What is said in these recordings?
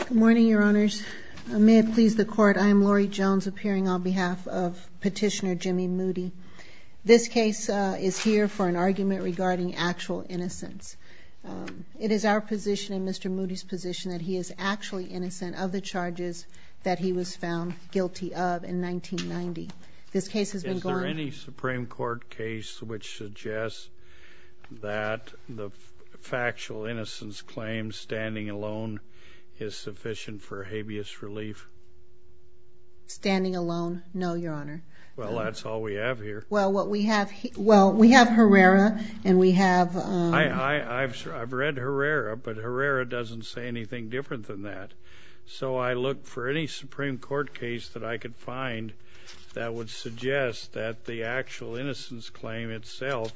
Good morning, Your Honors. May it please the Court, I am Laurie Jones appearing on behalf of Petitioner Jimmy Moody. This case is here for an argument regarding actual innocence. It is our position and Mr. Moody's position that he is actually innocent of the charges that he was found guilty of in 1990. Is there any Supreme Court case which suggests that the factual innocence claim, standing alone, is sufficient for habeas relief? Standing alone? No, Your Honor. Well, that's all we have here. Well, we have Herrera and we have... I've read Herrera, but Herrera doesn't say anything different than that. So I looked for any Supreme Court case that I could find that would suggest that the actual innocence claim itself,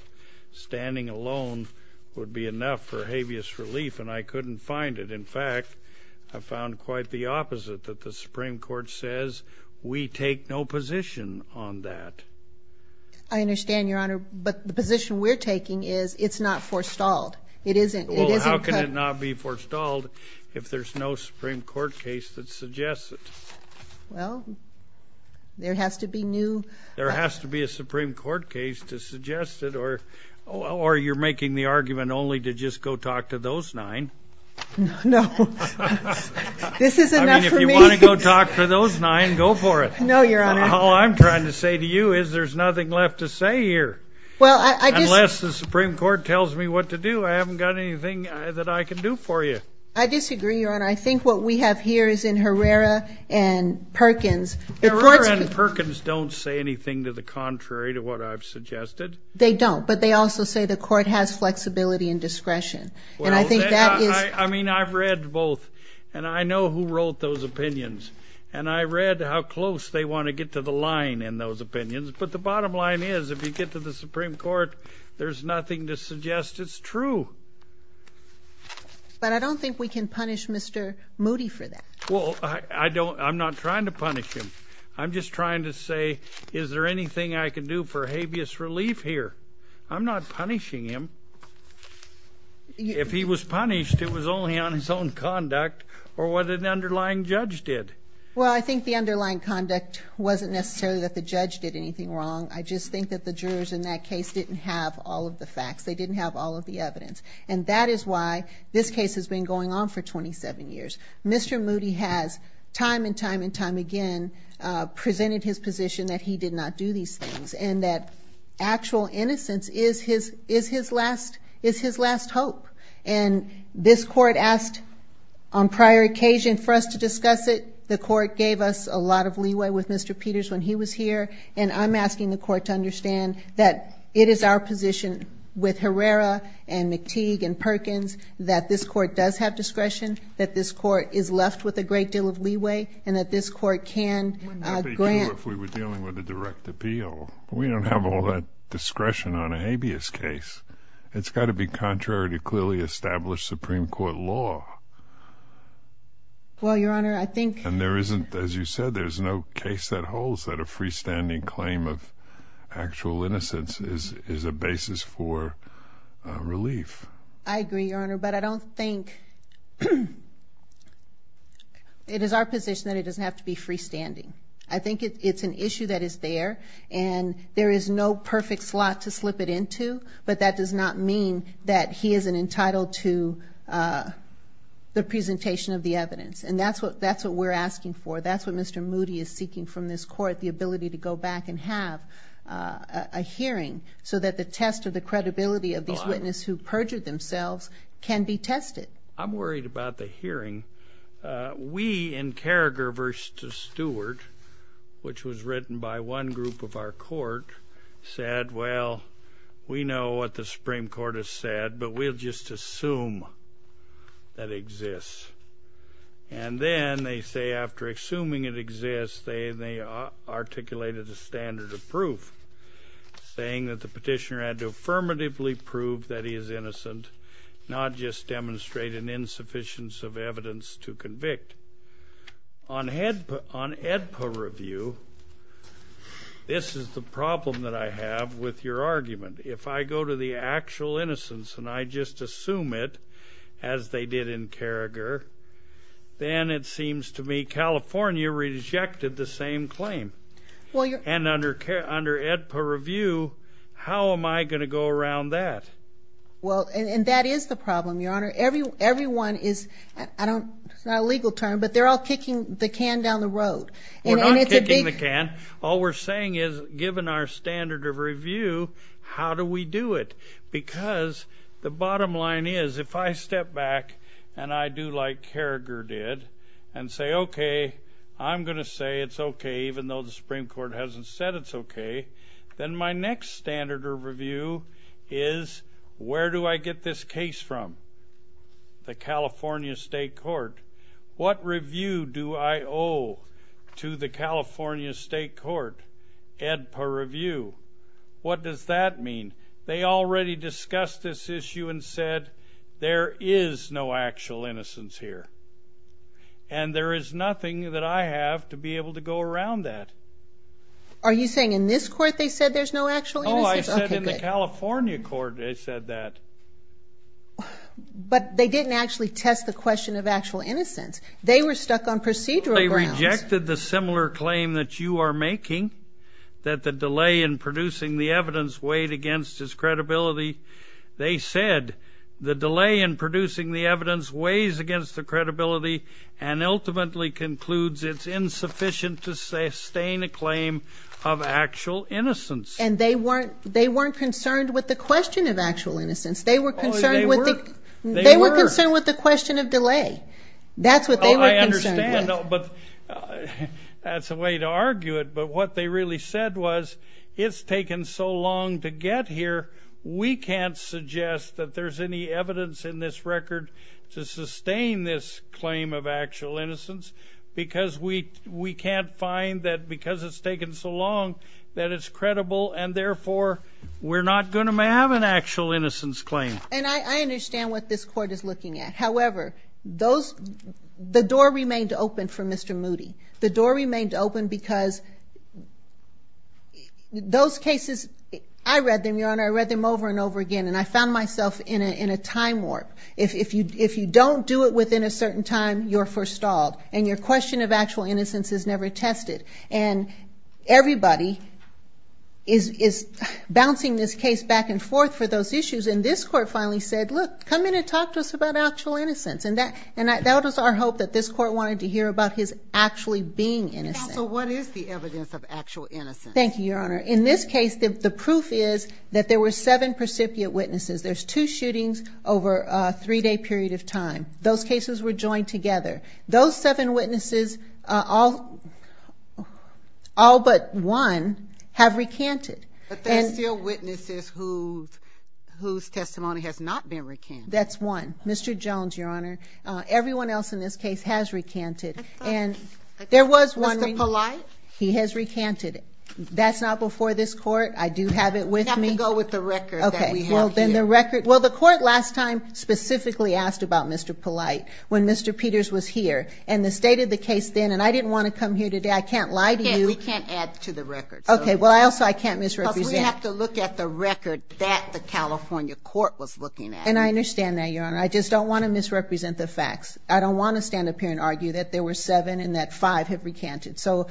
standing alone, would be enough for habeas relief, and I couldn't find it. In fact, I found quite the opposite, that the Supreme Court says we take no position on that. I understand, Your Honor, but the position we're taking is it's not forestalled. Well, how can it not be forestalled if there's no Supreme Court case that suggests it? Well, there has to be new... There has to be a Supreme Court case to suggest it, or you're making the argument only to just go talk to those nine. No, this is enough for me. I mean, if you want to go talk to those nine, go for it. No, Your Honor. All I'm trying to say to you is there's nothing left to say here. Unless the Supreme Court tells me what to do, I haven't got anything that I can do for you. I disagree, Your Honor. I think what we have here is in Herrera and Perkins... Herrera and Perkins don't say anything to the contrary to what I've suggested. They don't, but they also say the Court has flexibility and discretion, and I think that is... I mean, I've read both, and I know who wrote those opinions, and I read how close they want to get to the line in those opinions. But the bottom line is if you get to the Supreme Court, there's nothing to suggest it's true. But I don't think we can punish Mr. Moody for that. Well, I don't. I'm not trying to punish him. I'm just trying to say is there anything I can do for habeas relief here. I'm not punishing him. If he was punished, it was only on his own conduct or what an underlying judge did. Well, I think the underlying conduct wasn't necessarily that the judge did anything wrong. I just think that the jurors in that case didn't have all of the facts. They didn't have all of the evidence, and that is why this case has been going on for 27 years. Mr. Moody has time and time and time again presented his position that he did not do these things and that actual innocence is his last hope. And this court asked on prior occasion for us to discuss it. The court gave us a lot of leeway with Mr. Peters when he was here, and I'm asking the court to understand that it is our position with Herrera and McTeague and Perkins that this court does have discretion, that this court is left with a great deal of leeway, and that this court can grant. What would they do if we were dealing with a direct appeal? We don't have all that discretion on a habeas case. It's got to be contrary to clearly established Supreme Court law. Well, Your Honor, I think... And there isn't, as you said, there's no case that holds that a freestanding claim of actual innocence is a basis for relief. I agree, Your Honor, but I don't think it is our position that it doesn't have to be freestanding. I think it's an issue that is there, and there is no perfect slot to slip it into, but that does not mean that he isn't entitled to the presentation of the evidence. And that's what we're asking for. That's what Mr. Moody is seeking from this court, the ability to go back and have a hearing so that the test of the credibility of these witnesses who perjured themselves can be tested. I'm worried about the hearing. We in Carragher v. Stewart, which was written by one group of our court, said, Well, we know what the Supreme Court has said, but we'll just assume that it exists. And then they say after assuming it exists, they articulated a standard of proof, saying that the petitioner had to affirmatively prove that he is innocent, not just demonstrate an insufficience of evidence to convict. On AEDPA review, this is the problem that I have with your argument. If I go to the actual innocence and I just assume it, as they did in Carragher, then it seems to me California rejected the same claim. And under AEDPA review, how am I going to go around that? Well, and that is the problem, Your Honor. Everyone is, it's not a legal term, but they're all kicking the can down the road. We're not kicking the can. All we're saying is, given our standard of review, how do we do it? Because the bottom line is, if I step back, and I do like Carragher did, and say, Okay, I'm going to say it's okay even though the Supreme Court hasn't said it's okay, then my next standard of review is, where do I get this case from? The California State Court. What review do I owe to the California State Court? AEDPA review. What does that mean? They already discussed this issue and said there is no actual innocence here. And there is nothing that I have to be able to go around that. Are you saying in this court they said there's no actual innocence? Oh, I said in the California court they said that. But they didn't actually test the question of actual innocence. They were stuck on procedural grounds. They rejected the similar claim that you are making, that the delay in producing the evidence weighed against his credibility. They said the delay in producing the evidence weighs against the credibility and ultimately concludes it's insufficient to sustain a claim of actual innocence. And they weren't concerned with the question of actual innocence. They were concerned with the question of delay. That's what they were concerned with. Oh, I understand. That's a way to argue it. But what they really said was it's taken so long to get here, we can't suggest that there's any evidence in this record to sustain this claim of actual innocence because we can't find that because it's taken so long that it's credible and therefore we're not going to have an actual innocence claim. And I understand what this court is looking at. However, the door remained open for Mr. Moody. The door remained open because those cases, I read them, Your Honor, I read them over and over again and I found myself in a time warp. If you don't do it within a certain time, you're forestalled and your question of actual innocence is never tested. And everybody is bouncing this case back and forth for those issues and this court finally said, look, come in and talk to us about actual innocence. And that was our hope that this court wanted to hear about his actually being innocent. So what is the evidence of actual innocence? Thank you, Your Honor. In this case, the proof is that there were seven precipiate witnesses. There's two shootings over a three-day period of time. Those cases were joined together. Those seven witnesses, all but one, have recanted. But there are still witnesses whose testimony has not been recanted. That's one. Mr. Jones, Your Honor, everyone else in this case has recanted. And there was one recanted. Mr. Polite? He has recanted. That's not before this court. I do have it with me. We have to go with the record that we have here. Well, the court last time specifically asked about Mr. Polite when Mr. Peters was here. And they stated the case then, and I didn't want to come here today. I can't lie to you. We can't add to the record. Okay. Well, also, I can't misrepresent. Because we have to look at the record that the California court was looking at. And I understand that, Your Honor. I just don't want to misrepresent the facts. I don't want to stand up here and argue that there were seven and that five have recanted. Well,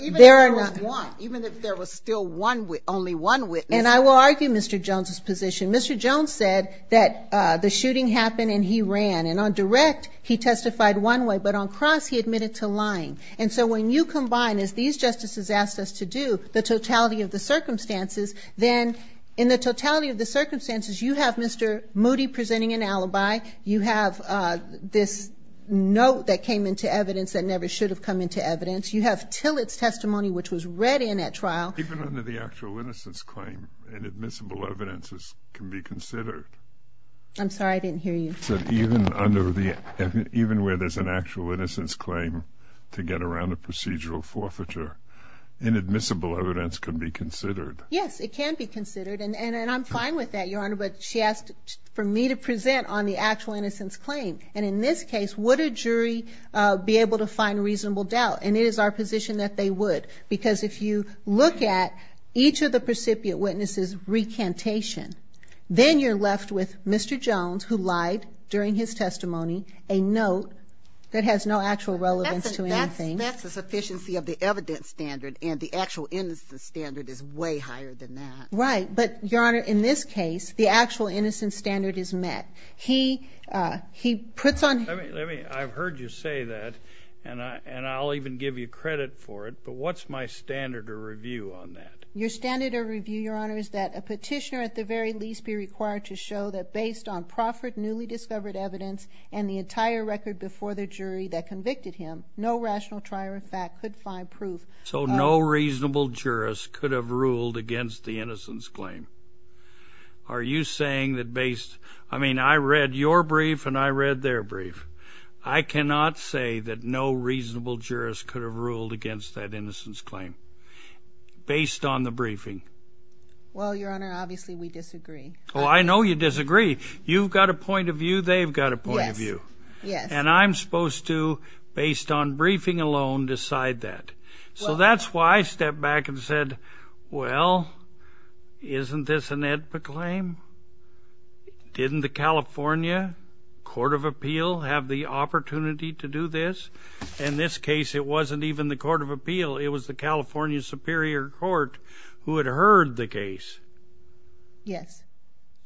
even if there was one, even if there was still only one witness. And I will argue Mr. Jones' position. Mr. Jones said that the shooting happened and he ran. And on direct, he testified one way. But on cross, he admitted to lying. And so when you combine, as these justices asked us to do, the totality of the circumstances, then in the totality of the circumstances, you have Mr. Moody presenting an alibi. You have this note that came into evidence that never should have come into evidence. You have Tillett's testimony, which was read in at trial. Even under the actual innocence claim, inadmissible evidence can be considered. I'm sorry. I didn't hear you. Even where there's an actual innocence claim to get around a procedural forfeiture, inadmissible evidence can be considered. Yes. It can be considered. And I'm fine with that, Your Honor. But she asked for me to present on the actual innocence claim. And in this case, would a jury be able to find reasonable doubt? And it is our position that they would. Because if you look at each of the precipiate witnesses' recantation, then you're left with Mr. Jones, who lied during his testimony, a note that has no actual relevance to anything. That's the sufficiency of the evidence standard. And the actual innocence standard is way higher than that. Right. But, Your Honor, in this case, the actual innocence standard is met. He puts on- I've heard you say that, and I'll even give you credit for it. But what's my standard of review on that? Your standard of review, Your Honor, is that a petitioner, at the very least, be required to show that based on proffered, newly discovered evidence and the entire record before the jury that convicted him, no rational trier of fact could find proof- So no reasonable jurist could have ruled against the innocence claim. Are you saying that based- I mean, I read your brief and I read their brief. I cannot say that no reasonable jurist could have ruled against that innocence claim based on the briefing. Well, Your Honor, obviously we disagree. Oh, I know you disagree. You've got a point of view, they've got a point of view. Yes. Yes. And I'm supposed to, based on briefing alone, decide that. So that's why I stepped back and said, well, isn't this an Edpa claim? Didn't the California Court of Appeal have the opportunity to do this? In this case, it wasn't even the Court of Appeal. It was the California Superior Court who had heard the case. Yes.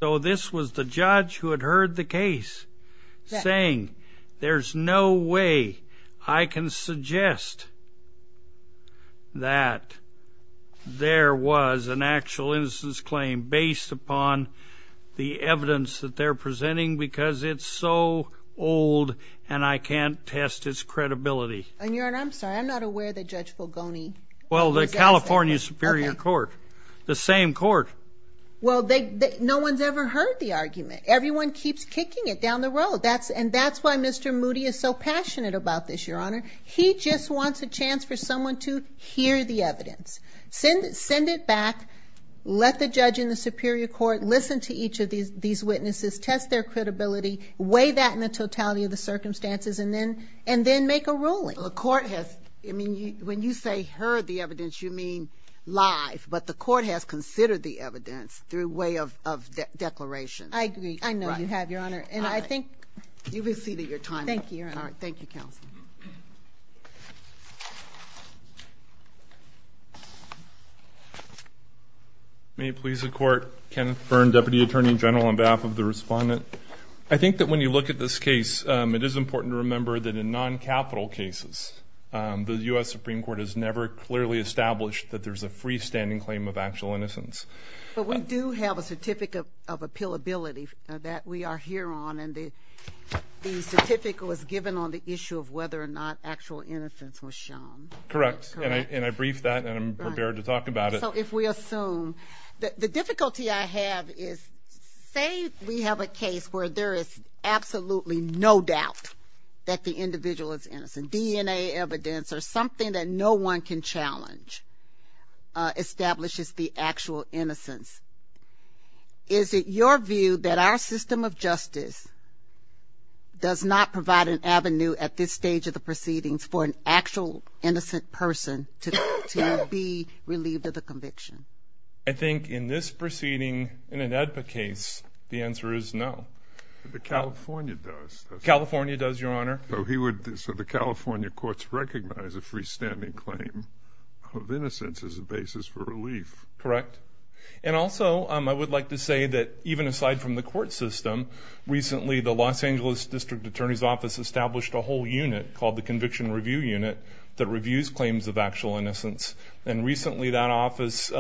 So this was the judge who had heard the case saying, there's no way I can suggest that there was an actual innocence claim based upon the evidence that they're presenting because it's so old and I can't test its credibility. And, Your Honor, I'm sorry, I'm not aware that Judge Fulgoni- Well, the California Superior Court, the same court. Well, no one's ever heard the argument. Everyone keeps kicking it down the road. And that's why Mr. Moody is so passionate about this, Your Honor. He just wants a chance for someone to hear the evidence, send it back, let the judge and the superior court listen to each of these witnesses, test their credibility, weigh that in the totality of the circumstances, and then make a ruling. Well, the court has, I mean, when you say heard the evidence, you mean live. But the court has considered the evidence through way of declaration. I agree. I know you have, Your Honor. And I think you've exceeded your time. Thank you, Your Honor. All right. Thank you, Counsel. May it please the Court, Kenneth Byrne, Deputy Attorney General, on behalf of the Respondent. I think that when you look at this case, it is important to remember that in non-capital cases, the U.S. Supreme Court has never clearly established that there's a freestanding claim of actual innocence. But we do have a certificate of appealability that we are here on, and the certificate was given on the issue of whether or not actual innocence was shown. Correct. And I briefed that, and I'm prepared to talk about it. So if we assume. The difficulty I have is say we have a case where there is absolutely no doubt that the individual is innocent, DNA evidence or something that no one can challenge establishes the actual innocence. Is it your view that our system of justice does not provide an avenue at this stage of the proceedings for an actual innocent person to be relieved of the conviction? I think in this proceeding, in an AEDPA case, the answer is no. California does, Your Honor. So the California courts recognize a freestanding claim of innocence as a basis for relief. Correct. And also I would like to say that even aside from the court system, recently the Los Angeles District Attorney's Office established a whole unit called the Conviction Review Unit that reviews claims of actual innocence. And recently that office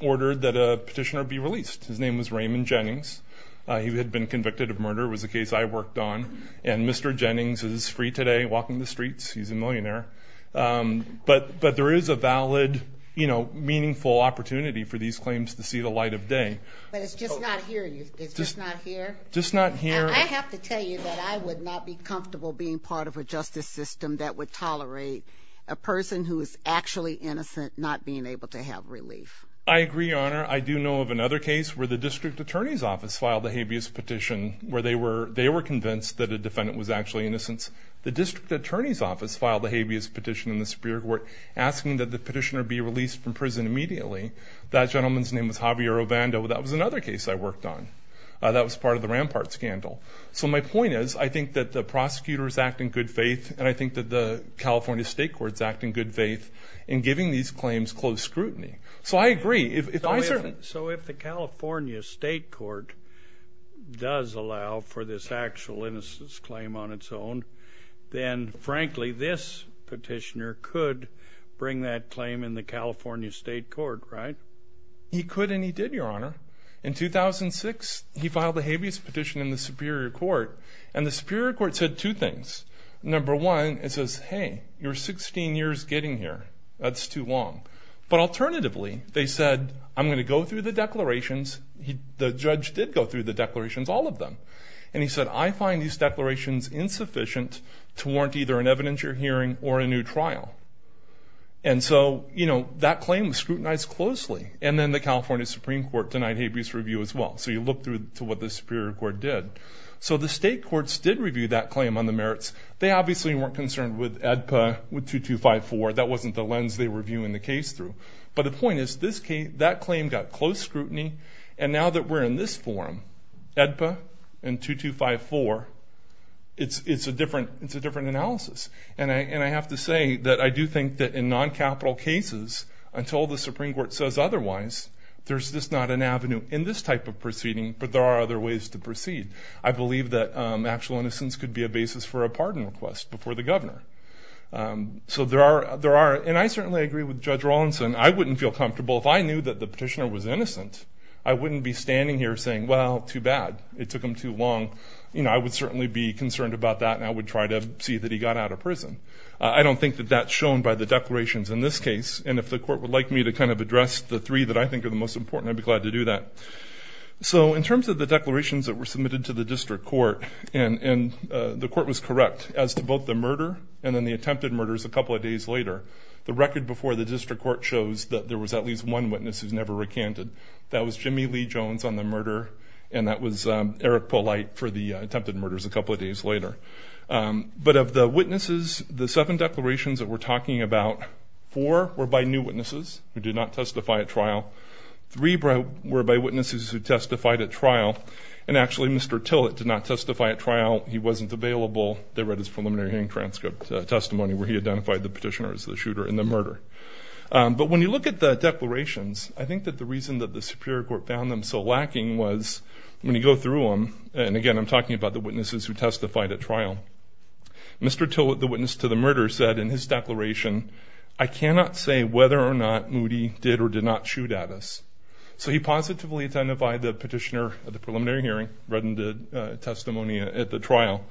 ordered that a petitioner be released. His name was Raymond Jennings. He had been convicted of murder. It was a case I worked on. And Mr. Jennings is free today walking the streets. He's a millionaire. But there is a valid, you know, meaningful opportunity for these claims to see the light of day. But it's just not here. It's just not here? Just not here. I have to tell you that I would not be comfortable being part of a justice system that would tolerate a person who is actually innocent not being able to have relief. I agree, Your Honor. I do know of another case where the District Attorney's Office filed a habeas petition where they were convinced that a defendant was actually innocent. The District Attorney's Office filed a habeas petition in the Superior Court asking that the petitioner be released from prison immediately. That gentleman's name was Javier Obando. That was another case I worked on. That was part of the Rampart scandal. So my point is I think that the prosecutor is acting in good faith and I think that the California State Court is acting in good faith in giving these claims close scrutiny. So I agree. So if the California State Court does allow for this actual innocence claim on its own, then frankly this petitioner could bring that claim in the California State Court, right? He could and he did, Your Honor. In 2006, he filed a habeas petition in the Superior Court, and the Superior Court said two things. Number one, it says, hey, you're 16 years getting here. That's too long. But alternatively, they said, I'm going to go through the declarations. The judge did go through the declarations, all of them. And he said, I find these declarations insufficient to warrant either an evidentiary hearing or a new trial. And so, you know, that claim was scrutinized closely. And then the California Supreme Court denied habeas review as well. So you look through to what the Superior Court did. So the state courts did review that claim on the merits. They obviously weren't concerned with AEDPA 2254. That wasn't the lens they were reviewing the case through. But the point is, that claim got close scrutiny, and now that we're in this forum, AEDPA and 2254, it's a different analysis. And I have to say that I do think that in non-capital cases, until the Supreme Court says otherwise, there's just not an avenue in this type of proceeding, but there are other ways to proceed. I believe that actual innocence could be a basis for a pardon request before the governor. So there are, and I certainly agree with Judge Rawlinson, I wouldn't feel comfortable if I knew that the petitioner was innocent. I wouldn't be standing here saying, well, too bad. It took him too long. You know, I would certainly be concerned about that, and I would try to see that he got out of prison. I don't think that that's shown by the declarations in this case. And if the court would like me to kind of address the three that I think are the most important, I'd be glad to do that. So in terms of the declarations that were submitted to the district court, and the court was correct as to both the murder and then the attempted murders a couple of days later, the record before the district court shows that there was at least one witness who's never recanted. That was Jimmy Lee Jones on the murder, and that was Eric Polite for the attempted murders a couple of days later. But of the witnesses, the seven declarations that we're talking about, four were by new witnesses who did not testify at trial, three were by witnesses who testified at trial, and actually Mr. Tillett did not testify at trial. He wasn't available. They read his preliminary hearing transcript testimony where he identified the petitioner as the shooter in the murder. But when you look at the declarations, I think that the reason that the superior court found them so lacking was when you go through them, and again I'm talking about the witnesses who testified at trial, Mr. Tillett, the witness to the murder, said in his declaration, I cannot say whether or not Moody did or did not shoot at us. So he positively identified the petitioner at the preliminary hearing, read the testimony at the trial,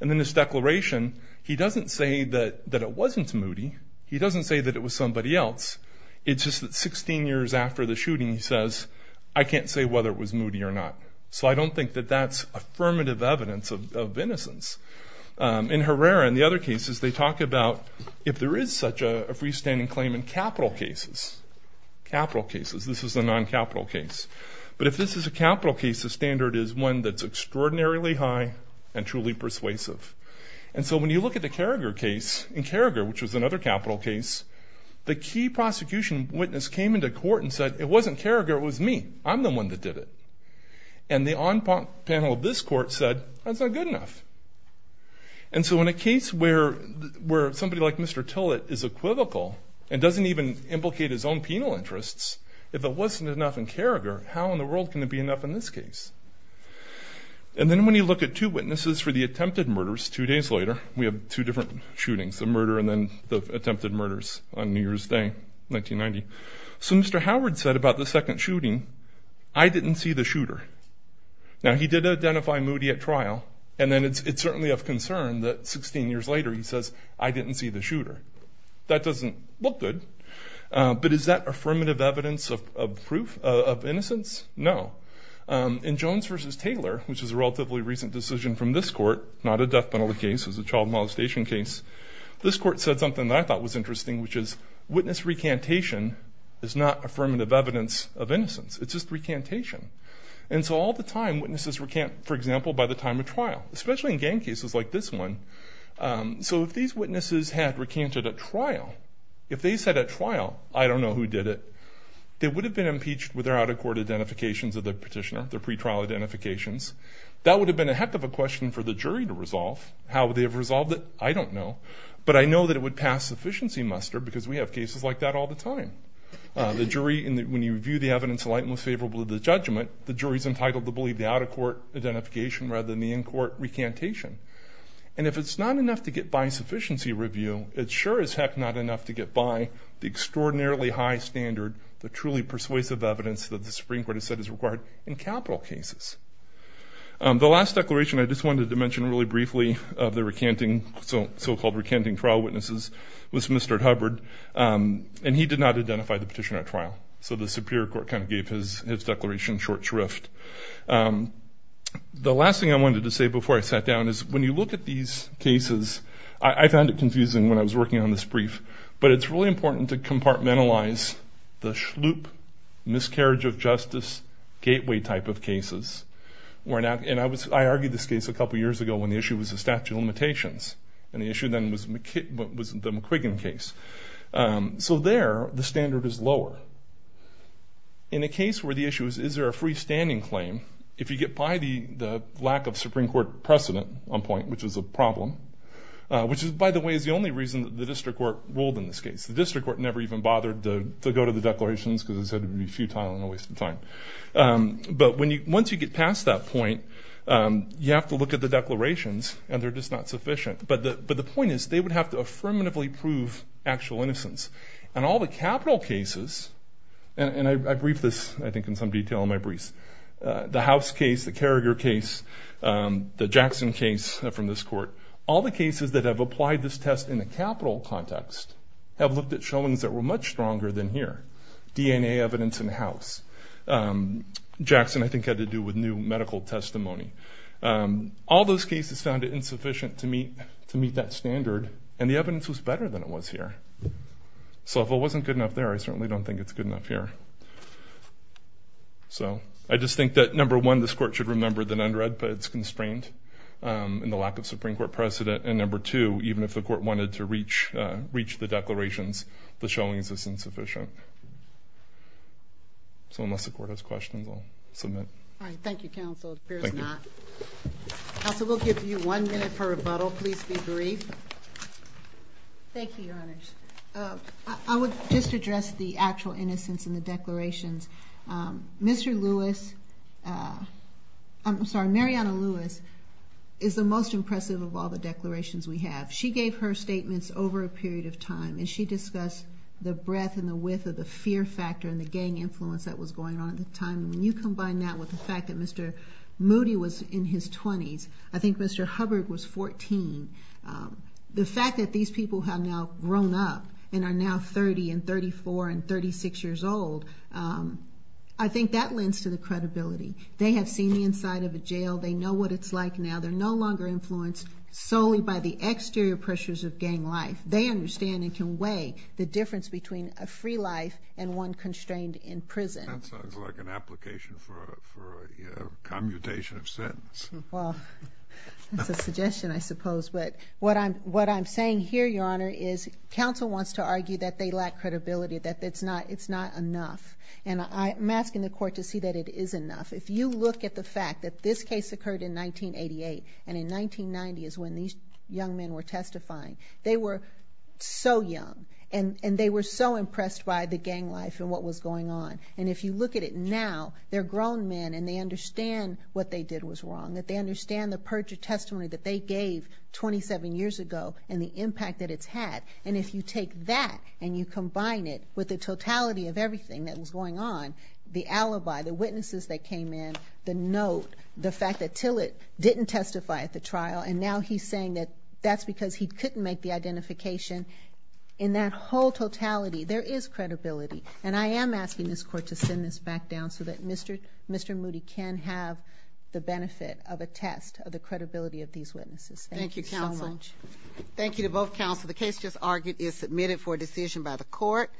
and in his declaration he doesn't say that it wasn't Moody. He doesn't say that it was somebody else. It's just that 16 years after the shooting he says, I can't say whether it was Moody or not. So I don't think that that's affirmative evidence of innocence. In Herrera and the other cases, they talk about if there is such a freestanding claim in capital cases, capital cases, this is a non-capital case. But if this is a capital case, the standard is one that's extraordinarily high and truly persuasive. And so when you look at the Carragher case, in Carragher, which was another capital case, the key prosecution witness came into court and said, it wasn't Carragher, it was me. I'm the one that did it. And the on-panel of this court said, that's not good enough. And so in a case where somebody like Mr. Tillett is equivocal and doesn't even implicate his own penal interests, if it wasn't enough in Carragher, how in the world can it be enough in this case? And then when you look at two witnesses for the attempted murders two days later, we have two different shootings, the murder and then the attempted murders on New Year's Day, 1990. So Mr. Howard said about the second shooting, I didn't see the shooter. Now he did identify Moody at trial, and then it's certainly of concern that 16 years later he says, I didn't see the shooter. That doesn't look good, but is that affirmative evidence of proof of innocence? No. In Jones v. Taylor, which is a relatively recent decision from this court, not a death penalty case, it was a child molestation case, this court said something that I thought was interesting, which is witness recantation is not affirmative evidence of innocence. It's just recantation. And so all the time witnesses recant, for example, by the time of trial, especially in gang cases like this one. So if these witnesses had recanted at trial, if they said at trial, I don't know who did it, they would have been impeached with their out-of-court identifications of the petitioner, their pretrial identifications. That would have been a heck of a question for the jury to resolve. How would they have resolved it? I don't know. But I know that it would pass sufficiency muster because we have cases like that all the time. The jury, when you review the evidence in light and most favorable to the judgment, the jury is entitled to believe the out-of-court identification rather than the in-court recantation. And if it's not enough to get by sufficiency review, it sure as heck not enough to get by the extraordinarily high standard, the truly persuasive evidence that the Supreme Court has said is required in capital cases. The last declaration I just wanted to mention really briefly of the recanting, so-called recanting trial witnesses, was Mr. Hubbard, and he did not identify the petitioner at trial. So the Superior Court kind of gave his declaration short shrift. The last thing I wanted to say before I sat down is, when you look at these cases, I found it confusing when I was working on this brief, but it's really important to compartmentalize the schloop, miscarriage of justice, gateway type of cases. I argued this case a couple years ago when the issue was the statute of limitations, and the issue then was the McQuiggan case. So there, the standard is lower. In a case where the issue is, is there a freestanding claim, if you get by the lack of Supreme Court precedent on point, which is a problem, which by the way is the only reason that the district court ruled in this case. The district court never even bothered to go to the declarations because it said it would be futile and a waste of time. But once you get past that point, you have to look at the declarations, and they're just not sufficient. But the point is, they would have to affirmatively prove actual innocence. And all the capital cases, and I briefed this, I think, in some detail in my briefs, the House case, the Carragher case, the Jackson case from this court, all the cases that have applied this test in a capital context have looked at showings that were much stronger than here. DNA evidence in the House. Jackson, I think, had to do with new medical testimony. All those cases found it insufficient to meet that standard, and the evidence was better than it was here. So if it wasn't good enough there, I certainly don't think it's good enough here. So I just think that, number one, this court should remember that under EDPA it's constrained in the lack of Supreme Court precedent, and number two, even if the court wanted to reach the declarations, the showings are insufficient. So unless the court has questions, I'll submit. All right, thank you, counsel. It appears not. Counsel, we'll give you one minute for rebuttal. Please be brief. Thank you, Your Honors. I would just address the actual innocence in the declarations. Mr. Lewis, I'm sorry, Mariana Lewis, is the most impressive of all the declarations we have. She gave her statements over a period of time, and she discussed the breadth and the width of the fear factor and the gang influence that was going on at the time. And when you combine that with the fact that Mr. Moody was in his 20s, I think Mr. Hubbard was 14. The fact that these people have now grown up and are now 30 and 34 and 36 years old, I think that lends to the credibility. They have seen the inside of a jail. They know what it's like now. They're no longer influenced solely by the exterior pressures of gang life. They understand and can weigh the difference between a free life and one constrained in prison. That sounds like an application for a commutation of sentence. Well, it's a suggestion, I suppose. But what I'm saying here, Your Honor, is counsel wants to argue that they lack credibility, that it's not enough. And I'm asking the Court to see that it is enough. If you look at the fact that this case occurred in 1988, and in 1990 is when these young men were testifying, they were so young, and they were so impressed by the gang life and what was going on. And if you look at it now, they're grown men, and they understand what they did was wrong, that they understand the perjured testimony that they gave 27 years ago and the impact that it's had. And if you take that and you combine it with the totality of everything that was going on, the alibi, the witnesses that came in, the note, the fact that Tillett didn't testify at the trial, and now he's saying that that's because he couldn't make the identification, in that whole totality there is credibility. And I am asking this Court to send this back down so that Mr. Moody can have the benefit of a test of the credibility of these witnesses. Thank you so much. Thank you, counsel. Thank you to both counsel. The case just argued is submitted for decision by the Court.